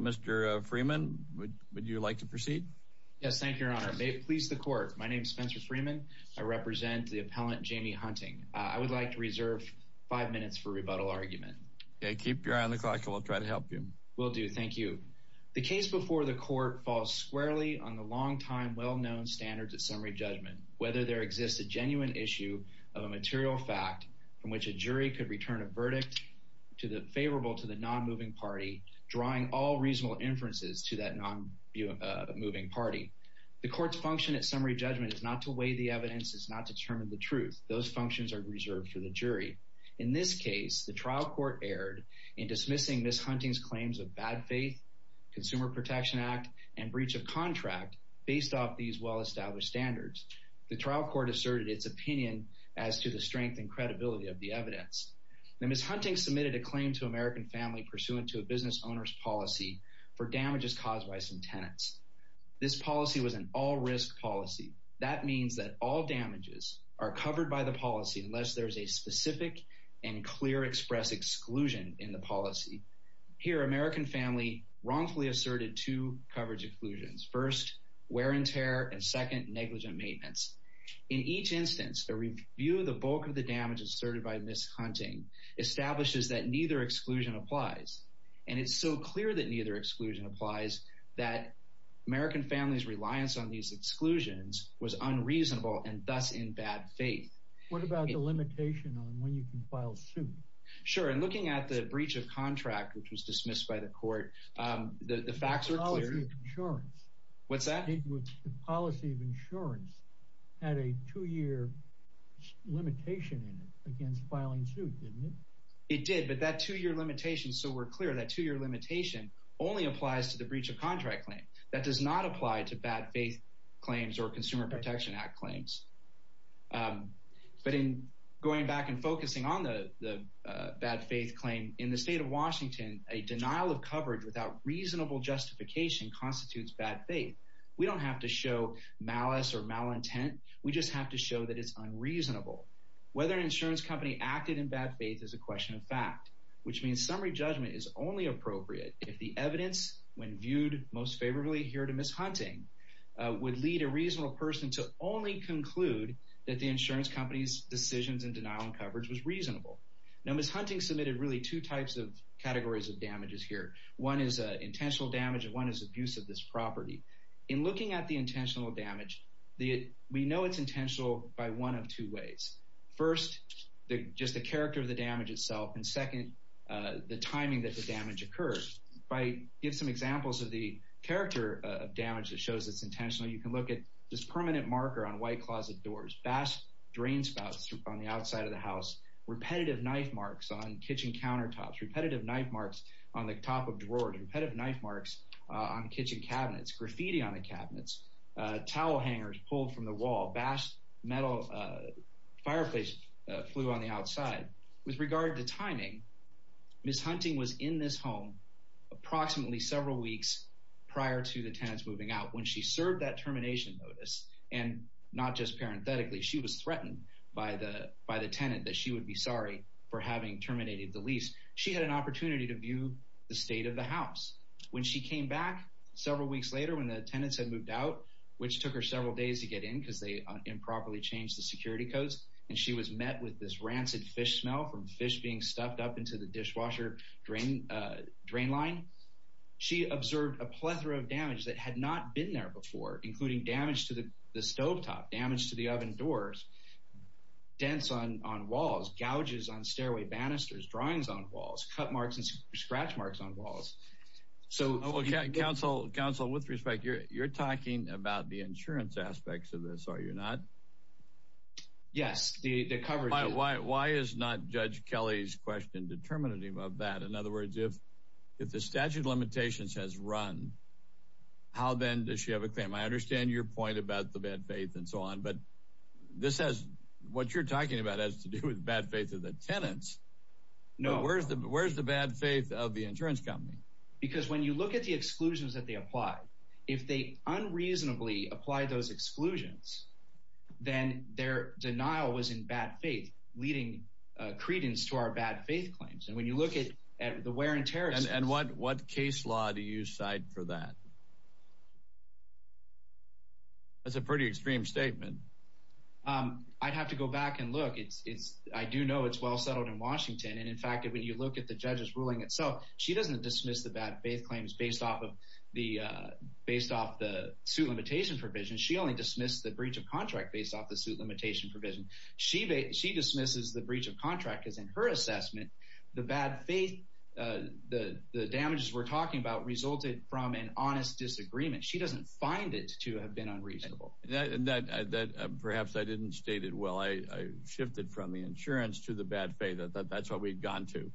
Mr. Freeman, would you like to proceed? Yes. Thank you, Your Honor. May it please the Court. My name is Spencer Freeman. I represent the appellant Jami Hunting. I would like to reserve five minutes for rebuttal argument. Okay. Keep your eye on the clock and we'll try to help you. Will do. Thank you. The case before the Court falls squarely on the long-time well-known standards of summary judgment, whether there exists a genuine issue of a material fact from which a jury could return a verdict favorable to the non-moving party, drawing all reasonable inferences to that non-moving party. The Court's function at summary judgment is not to weigh the evidence, it's not to determine the truth. Those functions are reserved for the jury. In this case, the trial court erred in dismissing Ms. Hunting's claims of bad faith, Consumer Protection Act, and breach of contract based off these well-established standards. The trial court asserted its opinion as to the strength and credibility of the evidence. Now, Ms. Hunting submitted a claim to American Family pursuant to a business owner's policy for damages caused by some tenants. This policy was an all-risk policy. That means that all damages are covered by the policy unless there's a specific and clear express exclusion in the policy. Here, American Family wrongfully asserted two coverage exclusions. First, wear and tear, and second, negligent maintenance. In each instance, a review of the bulk of the damage asserted by Ms. Hunting establishes that neither exclusion applies. And it's so clear that neither exclusion applies that American Family's reliance on these exclusions was unreasonable and thus in bad faith. What about the limitation on when you can file suit? Sure, and looking at the breach of contract, which was dismissed by the court, the facts were clear. The policy of insurance. What's that? The policy of insurance had a two-year limitation in it against filing suit, didn't it? It did, but that two-year limitation, so we're clear, that two-year limitation only applies to the breach of contract claim. That does not apply to bad faith claims or Consumer Protection Act claims. But in going back and focusing on the bad faith claim, in the state of Washington, a denial of coverage without reasonable justification constitutes bad faith. We don't have to show malice or malintent. We just have to show that it's unreasonable. Whether an insurance company acted in bad faith is a question of fact, which means summary really here to Ms. Hunting, would lead a reasonable person to only conclude that the insurance company's decisions in denial of coverage was reasonable. Now, Ms. Hunting submitted really two types of categories of damages here. One is intentional damage and one is abuse of this property. In looking at the intentional damage, we know it's intentional by one of two ways. First, just the character of the damage itself, and second, the timing that the damage occurs. If I give some examples of the character of damage that shows it's intentional, you can look at this permanent marker on white closet doors, vast drain spouts on the outside of the house, repetitive knife marks on kitchen countertops, repetitive knife marks on the top of drawers, repetitive knife marks on kitchen cabinets, graffiti on the cabinets, towel hangers pulled from the wall, vast metal fireplace flue on the outside. With regard to timing, Ms. Hunting was in this home approximately several weeks prior to the tenants moving out when she served that termination notice. And not just parenthetically, she was threatened by the tenant that she would be sorry for having terminated the lease. She had an opportunity to view the state of the house. When she came back several weeks later when the tenants had moved out, which took her several days to get in because they improperly changed the security codes, and she was met with this rancid fish smell from fish being stuffed up into the dishwasher drain line, she observed a plethora of damage that had not been there before, including damage to the stovetop, damage to the oven doors, dents on walls, gouges on stairway banisters, drawings on walls, cut marks and scratch marks on walls. So, counsel, with respect, you're talking about the insurance aspects of this, are you not? Yes, the coverage. Why is not Judge Kelly's question determinative of that? In other words, if the statute of limitations has run, how then does she have a claim? I understand your point about the bad faith and so on. But this has what you're talking about has to do with bad faith of the tenants. No, where's the where's the bad faith of the insurance company? Because when you look at the exclusions that they apply, if they unreasonably apply those exclusions, then their denial was in bad faith, leading credence to our bad faith claims. And when you look at the wear and tear and what what case law do you side for that? That's a pretty extreme statement. I'd have to go back and look, it's it's I do know it's well settled in Washington. And in fact, when you look at the judge's ruling itself, she doesn't dismiss the bad faith claims based off of the based off the suit limitation provision. She only dismissed the breach of contract based off the suit limitation provision. She she dismisses the breach of contract is in her assessment. The bad faith, the the damages we're talking about resulted from an honest disagreement. She doesn't find it to have been unreasonable. And that perhaps I didn't state it well. I shifted from the insurance to the bad faith. That's what we've gone to.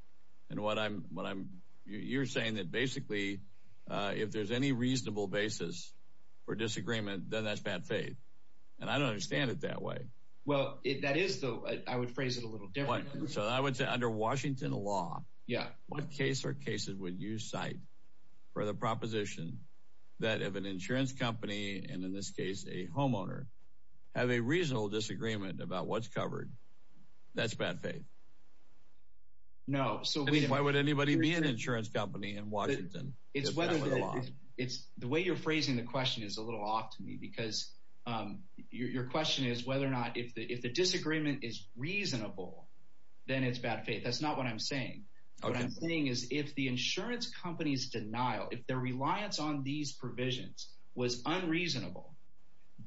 And what I'm what I'm you're saying that basically if there's any reasonable basis for bad faith, and I don't understand it that way. Well, that is, though, I would phrase it a little different. So I would say under Washington law. Yeah. What case or cases would you cite for the proposition that of an insurance company and in this case, a homeowner have a reasonable disagreement about what's covered? That's bad faith. No. So why would anybody be an insurance company in Washington? It's whether it's the way you're phrasing the question is a little off to me, because your question is whether or not if the if the disagreement is reasonable, then it's bad faith. That's not what I'm saying. What I'm saying is if the insurance company's denial, if their reliance on these provisions was unreasonable,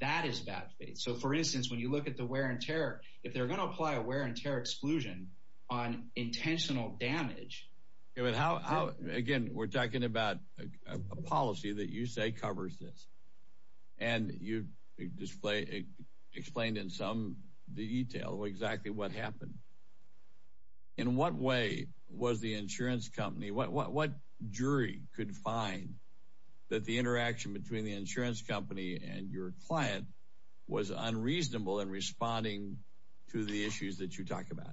that is bad faith. So, for instance, when you look at the wear and tear, if they're going to apply a wear and tear exclusion on intentional damage. Yeah. But how again, we're talking about a policy that you say covers this. And you display explained in some detail exactly what happened. In what way was the insurance company, what jury could find that the interaction between the insurance company and your client was unreasonable in responding to the issues that you talk about?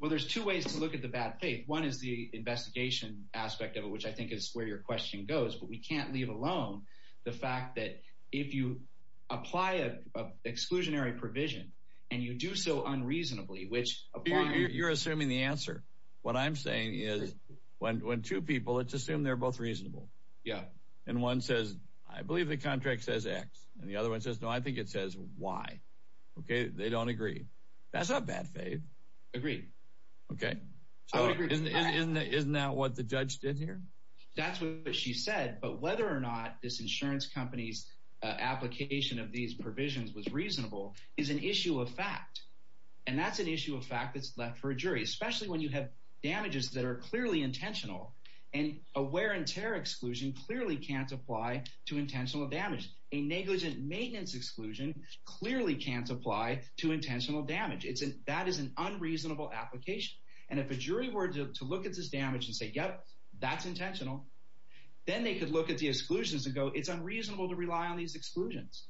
Well, there's two ways to look at the bad faith. One is the investigation aspect of it, which I think is where your question goes. But we can't leave alone the fact that if you apply a exclusionary provision and you do so unreasonably, which you're assuming the answer. What I'm saying is when two people, let's assume they're both reasonable. Yeah. And one says, I believe the contract says X and the other one says, no, I think it says Y. OK, they don't agree. That's not bad faith. Agreed. OK, so isn't that what the judge did here? That's what she said. But whether or not this insurance company's application of these provisions was reasonable is an issue of fact. And that's an issue of fact that's left for a jury, especially when you have damages that are clearly intentional and aware and terror exclusion clearly can't apply to intentional damage. A negligent maintenance exclusion clearly can't apply to intentional damage. It's that is an unreasonable application. And if a jury were to look at this damage and say, yep, that's intentional, then they could look at the exclusions and go, it's unreasonable to rely on these exclusions.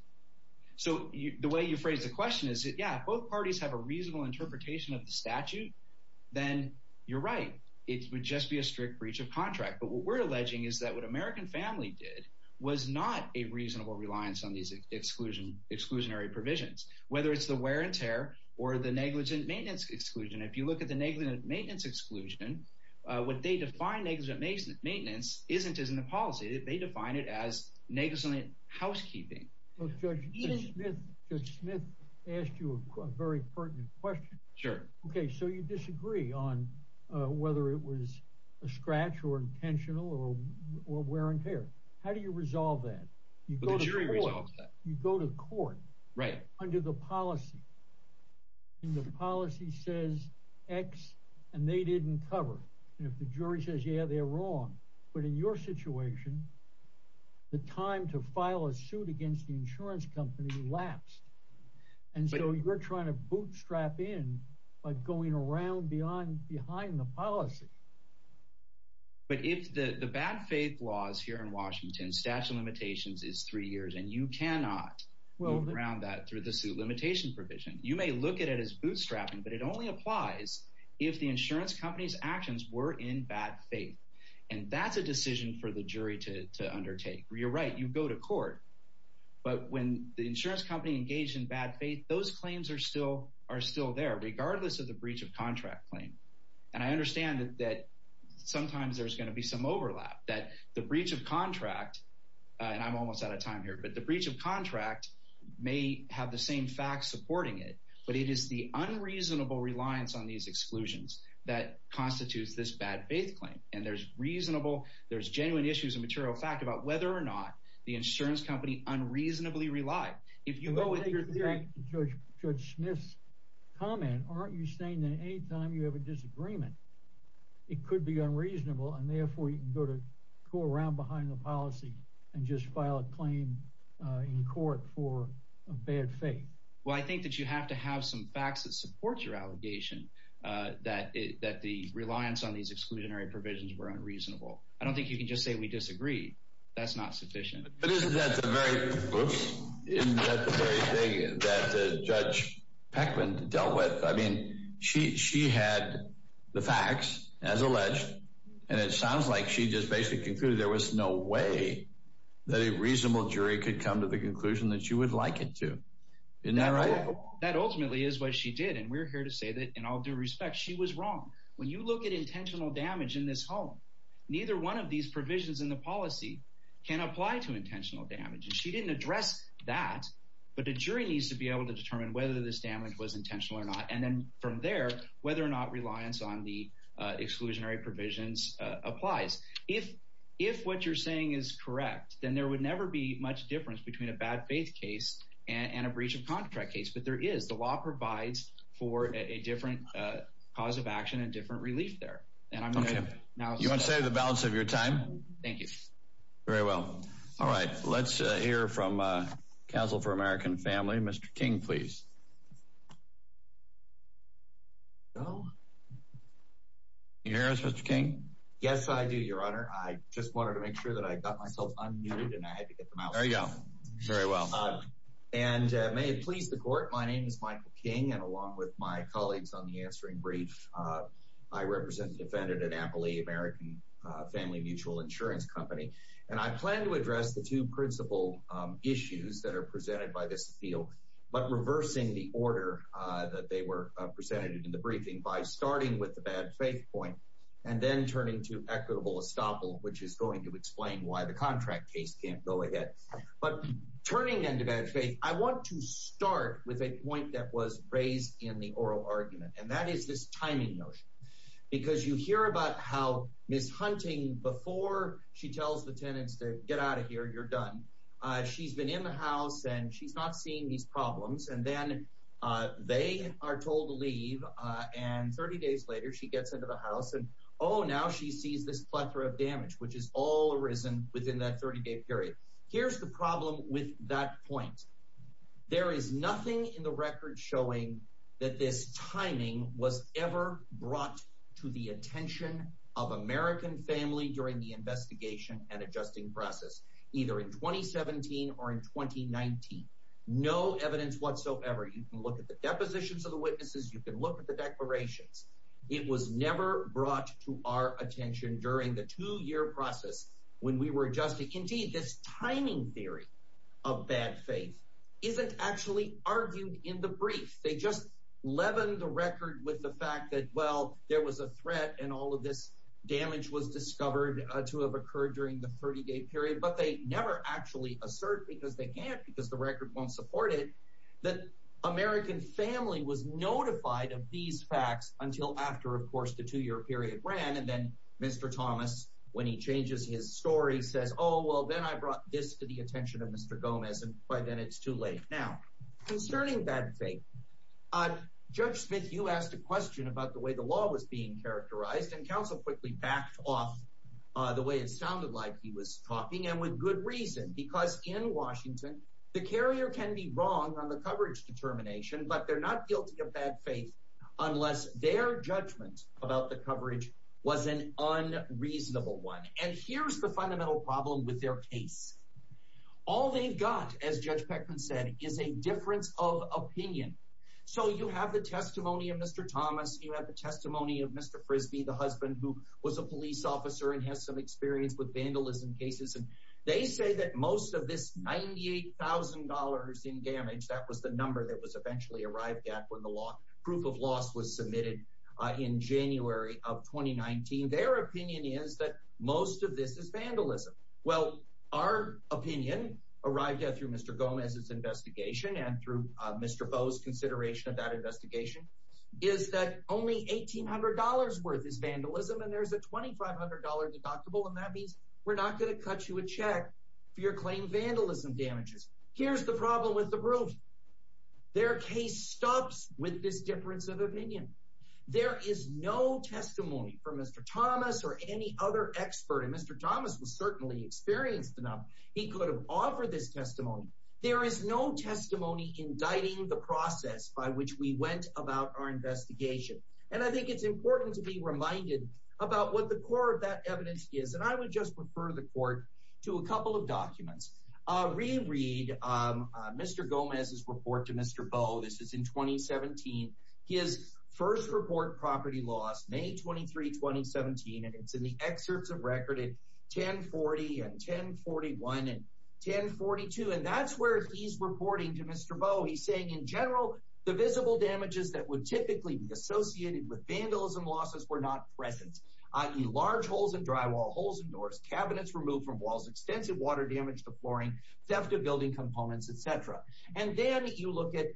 So the way you phrase the question is that, yeah, both parties have a reasonable interpretation of the statute, then you're right. It would just be a strict breach of contract. But what we're alleging is that what American family did was not a reasonable reliance on these exclusion exclusionary provisions, whether it's the wear and tear or the negligent maintenance exclusion. If you look at the negligent maintenance exclusion, what they define negligent maintenance isn't as in the policy. They define it as negligent housekeeping. Judge Smith asked you a very pertinent question. Sure. OK, so you disagree on whether it was a scratch or intentional or wear and tear. How do you resolve that? You go to court. You go to court. Right. Under the policy. And the policy says X and they didn't cover. And if the jury says, yeah, they're wrong. But in your situation. The time to file a suit against the insurance company lapsed, and so you're trying to bootstrap in by going around beyond behind the policy. But if the bad faith laws here in Washington statute of limitations is three years and you may look at it as bootstrapping, but it only applies if the insurance company's actions were in bad faith. And that's a decision for the jury to undertake. You're right. You go to court. But when the insurance company engaged in bad faith, those claims are still are still there, regardless of the breach of contract claim. And I understand that sometimes there's going to be some overlap, that the breach of contract and I'm almost out of time here, but the breach of contract may have the same facts supporting it. But it is the unreasonable reliance on these exclusions that constitutes this bad faith claim. And there's reasonable there's genuine issues and material fact about whether or not the insurance company unreasonably relied. If you go with your theory, Judge Smith's comment. Aren't you saying that any time you have a disagreement, it could be unreasonable and therefore you go to go around behind the policy and just file a claim in court for a bad faith? Well, I think that you have to have some facts that support your allegation, that that the reliance on these exclusionary provisions were unreasonable. I don't think you can just say we disagree. That's not sufficient. But isn't that the very thing that Judge Peckman dealt with? I mean, she had the facts as alleged, and it sounds like she just basically concluded there was no way that a reasonable jury could come to the conclusion that she would like it to. Isn't that right? That ultimately is what she did. And we're here to say that in all due respect, she was wrong. When you look at intentional damage in this home, neither one of these provisions in the policy can apply to intentional damage. And she didn't address that. But the jury needs to be able to determine whether this damage was intentional or not. And then from there, whether or not reliance on the exclusionary provisions applies. If if what you're saying is correct, then there would never be much difference between a bad faith case and a breach of contract case. But there is the law provides for a different cause of action and different relief there. And I'm going to say the balance of your time. Thank you very well. All right. Let's hear from Council for American Family. Mr. King, please. Oh, yes, Mr. King, yes, I do, your honor. I just wanted to make sure that I got myself unmuted and I had to get them out. There you go. Very well. And may it please the court. My name is Michael King. And along with my colleagues on the answering brief, I represent a defendant at Amelie American Family Mutual Insurance Company. And I plan to address the two principal issues that are presented by this appeal. But reversing the order that they were presented in the briefing by starting with the bad faith point and then turning to equitable estoppel, which is going to explain why the contract case can't go ahead. But turning into bad faith, I want to start with a point that was raised in the oral argument. And that is this timing notion, because you hear about how Miss Hunting, before she tells the tenants to get out of these problems, and then they are told to leave. And 30 days later, she gets into the house and oh, now she sees this plethora of damage, which is all arisen within that 30 day period. Here's the problem with that point. There is nothing in the record showing that this timing was ever brought to the attention of American family during the investigation and adjusting process, either in 2017 or in 2019. No evidence whatsoever. You can look at the depositions of the witnesses. You can look at the declarations. It was never brought to our attention during the two year process when we were adjusting. Indeed, this timing theory of bad faith isn't actually argued in the brief. They just leaven the record with the fact that, well, there was a threat and all of this damage was discovered to have occurred during the 30 day period. But they never actually assert, because they can't, because the record won't support it, that American family was notified of these facts until after, of course, the two year period ran. And then Mr. Thomas, when he changes his story, says, oh, well, then I brought this to the attention of Mr. Gomez. And by then it's too late. Now, concerning bad faith, Judge Smith, you asked a question about the way the law was being Because in Washington, the carrier can be wrong on the coverage determination, but they're not guilty of bad faith unless their judgment about the coverage was an unreasonable one. And here's the fundamental problem with their case. All they've got, as Judge Peckman said, is a difference of opinion. So you have the testimony of Mr. Thomas. You have the testimony of Mr. Frisbee, the husband who was a police officer and has some experience with vandalism cases. And they say that most of this ninety eight thousand dollars in damage, that was the number that was eventually arrived at when the law proof of loss was submitted in January of twenty nineteen. Their opinion is that most of this is vandalism. Well, our opinion arrived at through Mr. Gomez's investigation and through Mr. Foe's consideration of that investigation is that only eighteen hundred dollars worth is vandalism. And there's a twenty five hundred dollar deductible. And that means we're not going to cut you a check for your claim vandalism damages. Here's the problem with the roof. Their case stops with this difference of opinion. There is no testimony from Mr. Thomas or any other expert. And Mr. Thomas was certainly experienced enough. He could have offered this testimony. There is no testimony indicting the process by which we went about our investigation. And I think it's important to be reminded about what the core of that evidence is. And I would just refer the court to a couple of documents. I'll reread Mr. Gomez's report to Mr. Bowe. This is in twenty seventeen. His first report property loss, May twenty three, twenty seventeen. And it's in the excerpts of record at ten forty and ten forty one and ten forty two. And that's where he's reporting to Mr. Bowe. He's saying in general, the visible damages that would typically be associated with vandalism losses were not present. I mean, large holes in drywall, holes in doors, cabinets removed from walls, extensive water damage to flooring, theft of building components, et cetera. And then you look at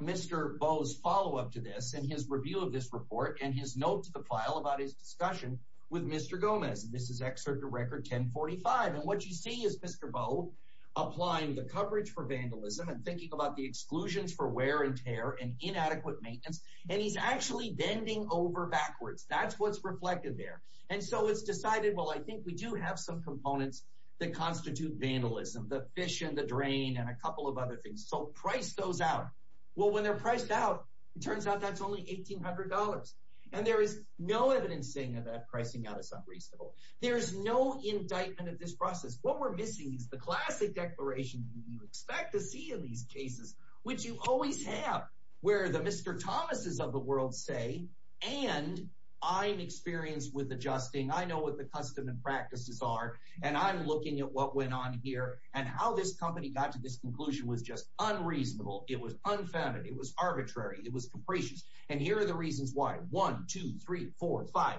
Mr. Bowe's follow up to this and his review of this report and his note to the file about his discussion with Mr. Gomez. This is excerpt of record ten forty five. And what you see is Mr. Bowe applying the coverage for vandalism and thinking about the exclusions for wear and tear and inadequate maintenance. And he's actually bending over backwards. That's what's reflected there. And so it's decided, well, I think we do have some components that constitute vandalism, the fish and the drain and a couple of other things. So price goes out. Well, when they're priced out, it turns out that's only eighteen hundred dollars. And there is no evidence saying that pricing out is unreasonable. There is no indictment of this process. What we're missing is the classic declaration you expect to see in these cases, which you always have where the Mr. Thomas is of the world, say, and I'm experienced with adjusting. I know what the custom and practices are. And I'm looking at what went on here and how this company got to this conclusion was just unreasonable. It was unfounded. It was arbitrary. It was capricious. And here are the reasons why. One, two, three, four, five.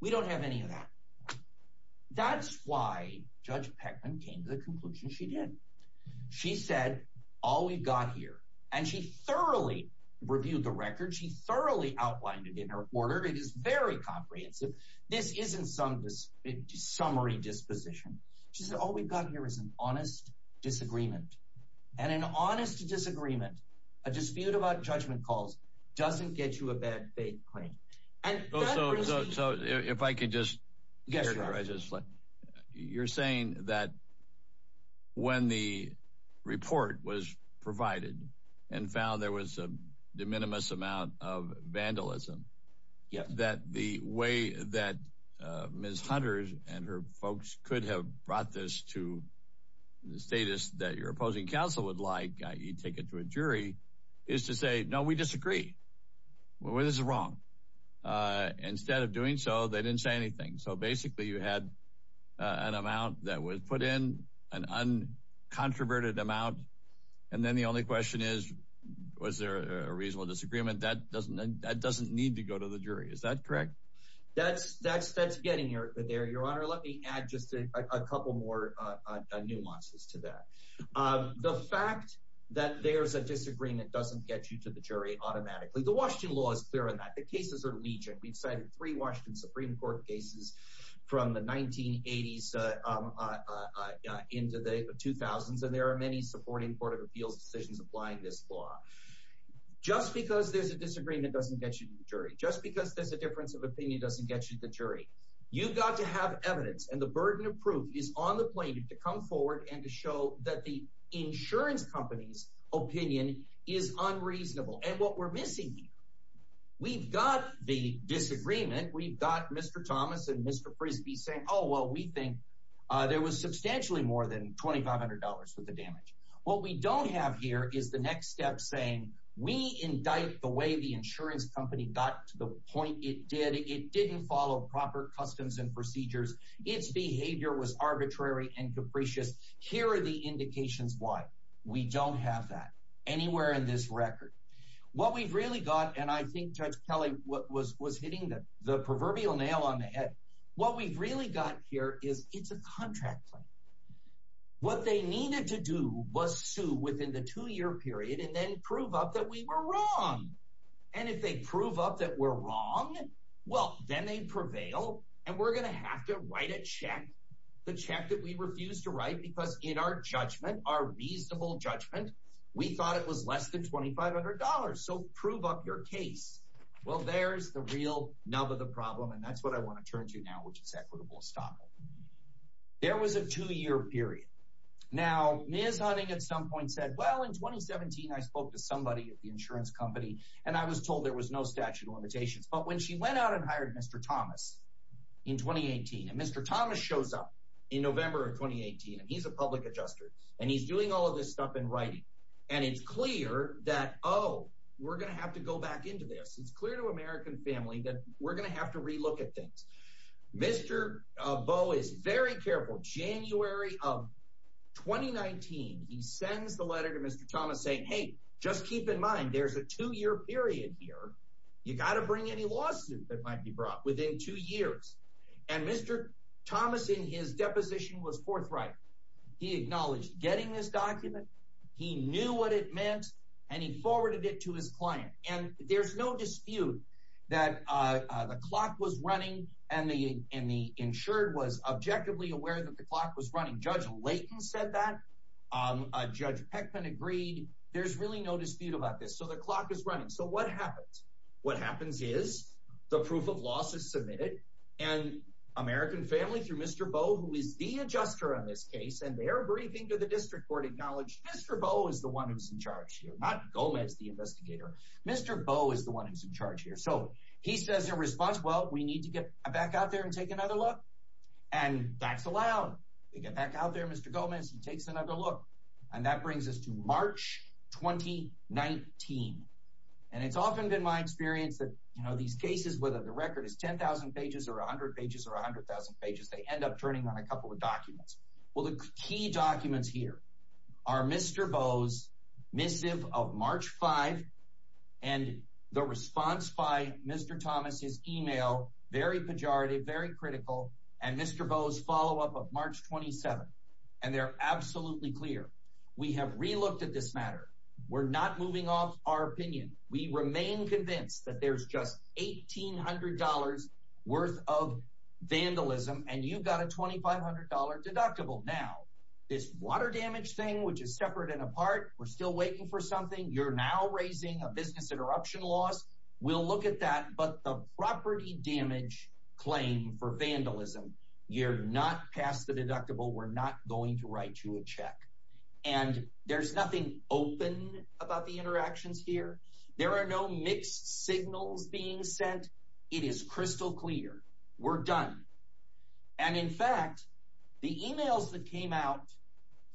We don't have any of that. That's why Judge Peckman came to the conclusion she did. She said, all we've got here. And she thoroughly reviewed the record. She thoroughly outlined it in her order. It is very comprehensive. This isn't some summary disposition. She said, all we've got here is an honest disagreement and an honest disagreement. A dispute about judgment calls doesn't get you a bad faith claim. And so if I could just. You're saying that when the report was provided and found there was a de minimis amount of vandalism, that the way that Ms. Hunter and her folks could have brought this to the status that your opposing counsel would like, you take it to a jury is to say, no, we disagree. Well, this is wrong. Instead of doing so, they didn't say anything. So basically, you had an amount that was put in an uncontroverted amount. And then the only question is, was there a reasonable disagreement? That doesn't that doesn't need to go to the jury. Is that correct? That's that's that's getting your there, Your Honor. Let me add just a couple more nuances to that. The fact that there's a disagreement doesn't get you to the jury automatically. The Washington law is clear on that. Cases are legion. We've cited three Washington Supreme Court cases from the 1980s into the 2000s. And there are many supporting Court of Appeals decisions applying this law. Just because there's a disagreement doesn't get you to the jury. Just because there's a difference of opinion doesn't get you to the jury. You've got to have evidence. And the burden of proof is on the plaintiff to come forward and to show that the insurance company's opinion is unreasonable. And what we're missing here, we've got the disagreement. We've got Mr. Thomas and Mr. Frisbee saying, oh, well, we think there was substantially more than $2,500 worth of damage. What we don't have here is the next step saying we indict the way the insurance company got to the point it did. It didn't follow proper customs and procedures. Its behavior was arbitrary and capricious. Here are the indications why we don't have that anywhere in this record. What we've really got, and I think Judge Kelly was hitting the proverbial nail on the head, what we've really got here is it's a contract claim. What they needed to do was sue within the two-year period and then prove up that we were wrong. And if they prove up that we're wrong, well, then they'd prevail, and we're going to have to write a check, the check that we refused to write because in our judgment, our reasonable judgment, we thought it was less than $2,500. So prove up your case. Well, there's the real nub of the problem, and that's what I want to turn to now, which is equitable estoppel. There was a two-year period. Now, Ms. Hunting at some point said, well, in 2017, I spoke to somebody at the insurance company, and I was told there was no statute of limitations. But when she went out and hired Mr. Thomas in 2018, and Mr. Thomas shows up in November of 2018, and he's a public adjuster, and he's doing all of this stuff in writing, and it's clear that, oh, we're going to have to go back into this. It's clear to American family that we're going to have to relook at things. Mr. Bowe is very careful. January of 2019, he sends the letter to Mr. Thomas saying, hey, just keep in mind there's a two-year period here. You've got to bring any lawsuit that might be brought within two years. And Mr. Thomas, in his deposition, was forthright. He acknowledged getting this document. He knew what it meant, and he forwarded it to his client. And there's no dispute that the clock was running, and the insured was objectively aware that the clock was running. Judge Layton said that. Judge Peckman agreed. There's really no dispute about this. So the clock is running. So what happens? What happens is the proof of loss is submitted, and American family, through Mr. Bowe, who is the adjuster on this case, and their briefing to the district court acknowledged Mr. Bowe is the one who's in charge here, not Gomez, the investigator. Mr. Bowe is the one who's in charge here. So he says in response, well, we need to get back out there and take another look. And that's allowed. We get back out there, Mr. Gomez. He takes another look. And that brings us to March 2019. And it's often been my experience that these cases, whether the record is 10,000 pages or 100 pages or 100,000 pages, they end up turning on a couple of documents. Well, the key documents here are Mr. Bowe's missive of March 5, and the response by Mr. Thomas, his email, very pejorative, very critical, and Mr. Bowe's follow-up of March 27. And they're absolutely clear. We have relooked at this matter. We're not moving off our opinion. We remain convinced that there's just $1,800 worth of vandalism, and you've got a $2,500 deductible. Now, this water damage thing, which is separate and apart, we're still waiting for something. You're now raising a business interruption loss. We'll look at that. But the property damage claim for vandalism, you're not past the deductible. We're not going to write you a check. And there's nothing open about the interactions here. There are no mixed signals being sent. It is crystal clear. We're done. And in fact, the emails that came out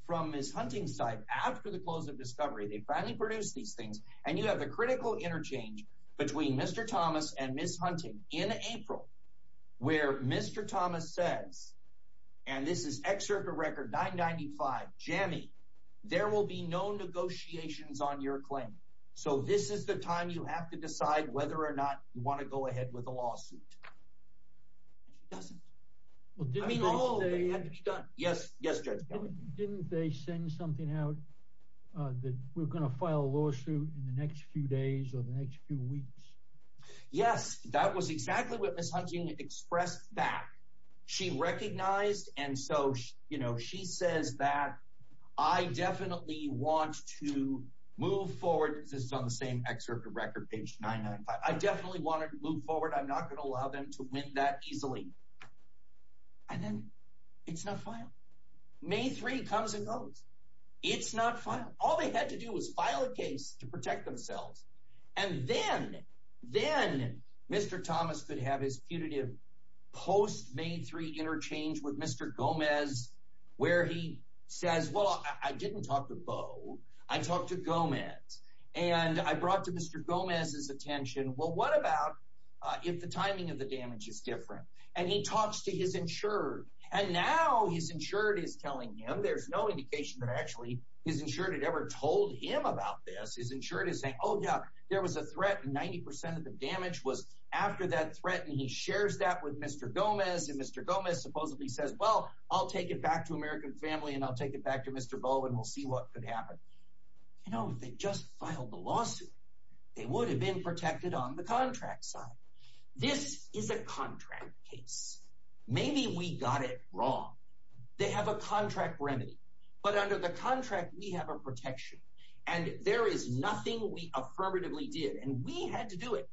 from Ms. Hunting's side after the close of Discovery, they finally produced these things, and you have the critical interchange between Mr. Thomas and Ms. Hunting in April, where Mr. Thomas says, and this is excerpt of record 995, Jammie, there will be no negotiations on your claim. So this is the time you have to decide whether or not you want to go ahead with a lawsuit. And she doesn't. I mean, all of it had to be done. Yes, Judge Kelly? Didn't they send something out that we're going to file a lawsuit in the next few days or the next few weeks? Yes, that was exactly what Ms. Hunting expressed back. She recognized. And so she says that I definitely want to move forward. This is on the same excerpt of record, page 995. I definitely want to move forward. I'm not going to allow them to win that easily. And then it's not filed. May 3 comes and goes. It's not filed. All they had to do was file a case to protect themselves. And then, then Mr. Thomas could have his punitive post May 3 interchange with Mr. Gomez, where he says, well, I didn't talk to Bo. I talked to Gomez and I brought to Mr. Gomez's attention. Well, what about if the timing of the damage is different? And he talks to his insured. And now his insured is telling him there's no indication that actually his insured had ever told him about this. His insured is saying, oh, yeah, there was a threat and 90% of the damage was after that threat. And he shares that with Mr. Gomez. And Mr. Gomez supposedly says, well, I'll take it back to American family and I'll take it back to Mr. Bo and we'll see what could happen. You know, if they just filed the lawsuit, they would have been protected on the contract side. This is a contract case. Maybe we got it wrong. They have a contract remedy. But under the contract, we have a protection. And there is nothing we affirmatively did. And we had to do it.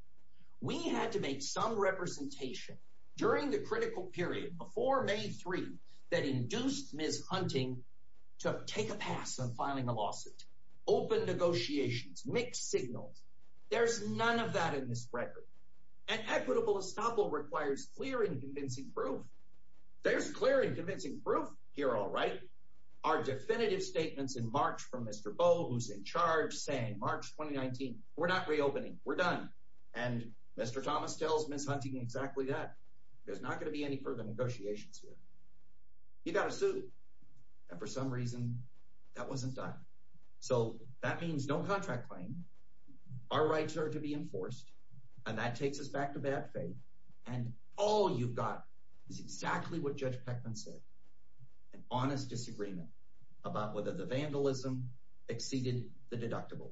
We had to make some representation during the critical period before May 3 that induced Ms. Hunting to take a pass on filing a lawsuit. Open negotiations, mixed signals. There's none of that in this record. And equitable estoppel requires clear and convincing proof. There's clear and convincing proof here, all right. Our definitive statements in March from Mr. Bo, who's in charge, saying March 2019, we're not reopening. We're done. And Mr. Thomas tells Ms. Hunting exactly that. There's not going to be any further negotiations here. He got a suit. And for some reason, that wasn't done. So that means no contract claim. Our rights are to be enforced. And that takes us back to bad faith. And all you've got is exactly what Judge Peckman said. An honest disagreement about whether the vandalism exceeded the deductible.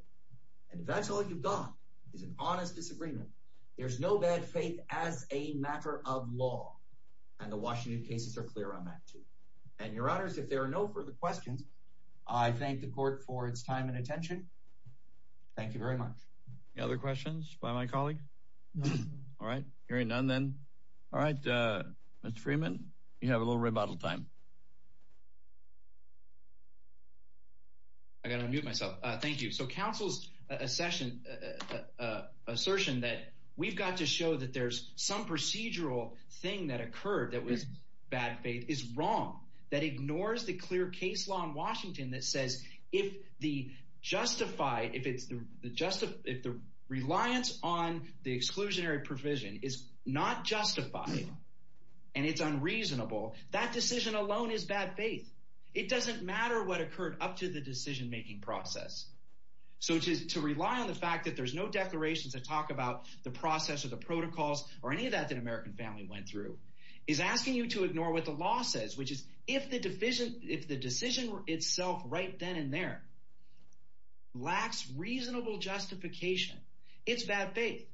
And if that's all you've got is an honest disagreement, there's no bad faith as a matter of law. And the Washington cases are clear on that too. And your honors, if there are no further questions, I thank the court for its time and attention. Thank you very much. Any other questions by my colleague? All right. Hearing none then. All right. Mr. Freeman, you have a little rebuttal time. I got to unmute myself. Thank you. So counsel's assertion that we've got to show that there's some procedural thing that occurred that was bad faith is wrong. That ignores the clear case law in Washington that says if the reliance on the exclusionary provision is not justified and it's unreasonable, that decision alone is bad faith. It doesn't matter what occurred up to the decision-making process. So to rely on the fact that there's no declarations that talk about the process or the protocols or any of that that American family went through is asking you to ignore what the law says, which is if the decision itself right then and there lacks reasonable justification, it's bad faith.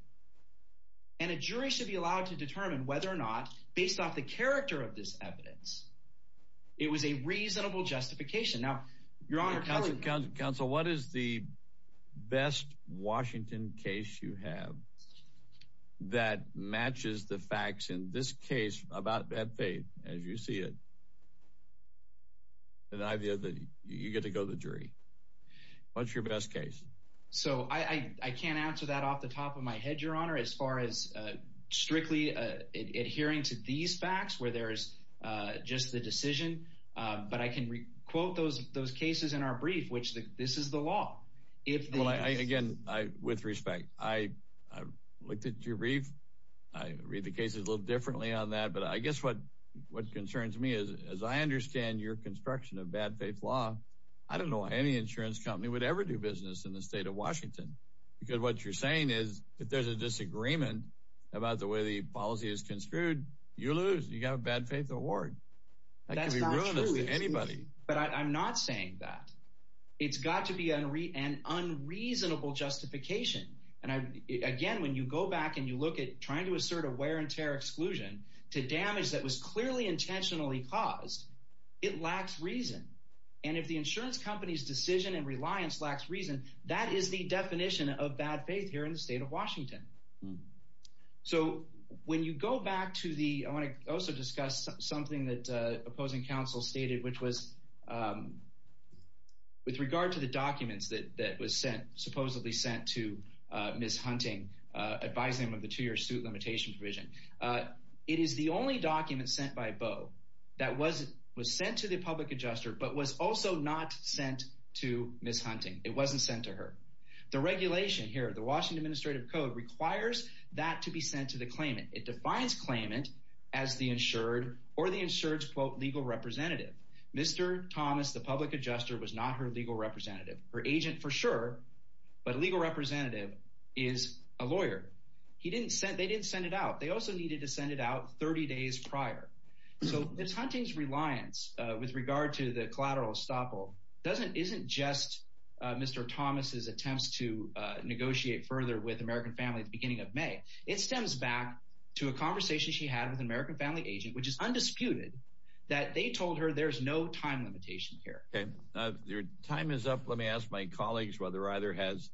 And a jury should be allowed to determine whether or not, based off the character of this evidence, it was a reasonable justification. Now, your honor, counsel. Counsel, what is the best Washington case you have that matches the facts in this case about bad faith as you see it? The idea that you get to go to the jury. What's your best case? So I can't answer that off the top of my head, your honor, as far as strictly adhering to these facts where there's just the decision. But I can quote those cases in our brief, which this is the law. Again, with respect, I looked at your brief. I read the cases a little differently on that. But I guess what concerns me is, as I understand your construction of bad faith law, I don't know any insurance company would ever do business in the state of Washington. Because what you're saying is, if there's a disagreement about the way the policy is construed, you lose. You got a bad faith award. That could be ruinous to anybody. But I'm not saying that. It's got to be an unreasonable justification. And again, when you go back and you look at trying to assert a wear and tear exclusion to damage that was clearly intentionally caused, it lacks reason. And if the insurance company's decision and reliance lacks reason, that is the definition of bad faith here in the state of Washington. So when you go back to the, I want to also discuss something that opposing counsel stated, which was with regard to the documents that was sent, supposedly sent to Ms. Hunting, advising him of the two-year suit limitation provision, it is the only document sent by was also not sent to Ms. Hunting. It wasn't sent to her. The regulation here, the Washington Administrative Code, requires that to be sent to the claimant. It defines claimant as the insured or the insured's, quote, legal representative. Mr. Thomas, the public adjuster, was not her legal representative. Her agent, for sure, but legal representative is a lawyer. They didn't send it out. They also needed to send it out 30 days prior. So Ms. Hunting's reliance with regard to the collateral estoppel doesn't, isn't just Mr. Thomas's attempts to negotiate further with American Family at the beginning of May. It stems back to a conversation she had with an American Family agent, which is undisputed, that they told her there's no time limitation here. Okay, your time is up. Let me ask my colleagues whether either has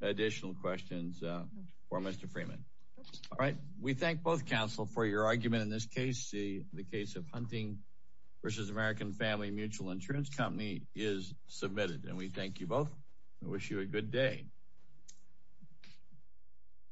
additional questions for Mr. Freeman. All right. We thank both counsel for your argument in this case. The case of Hunting v. American Family Mutual Insurance Company is submitted. And we thank you both. I wish you a good day.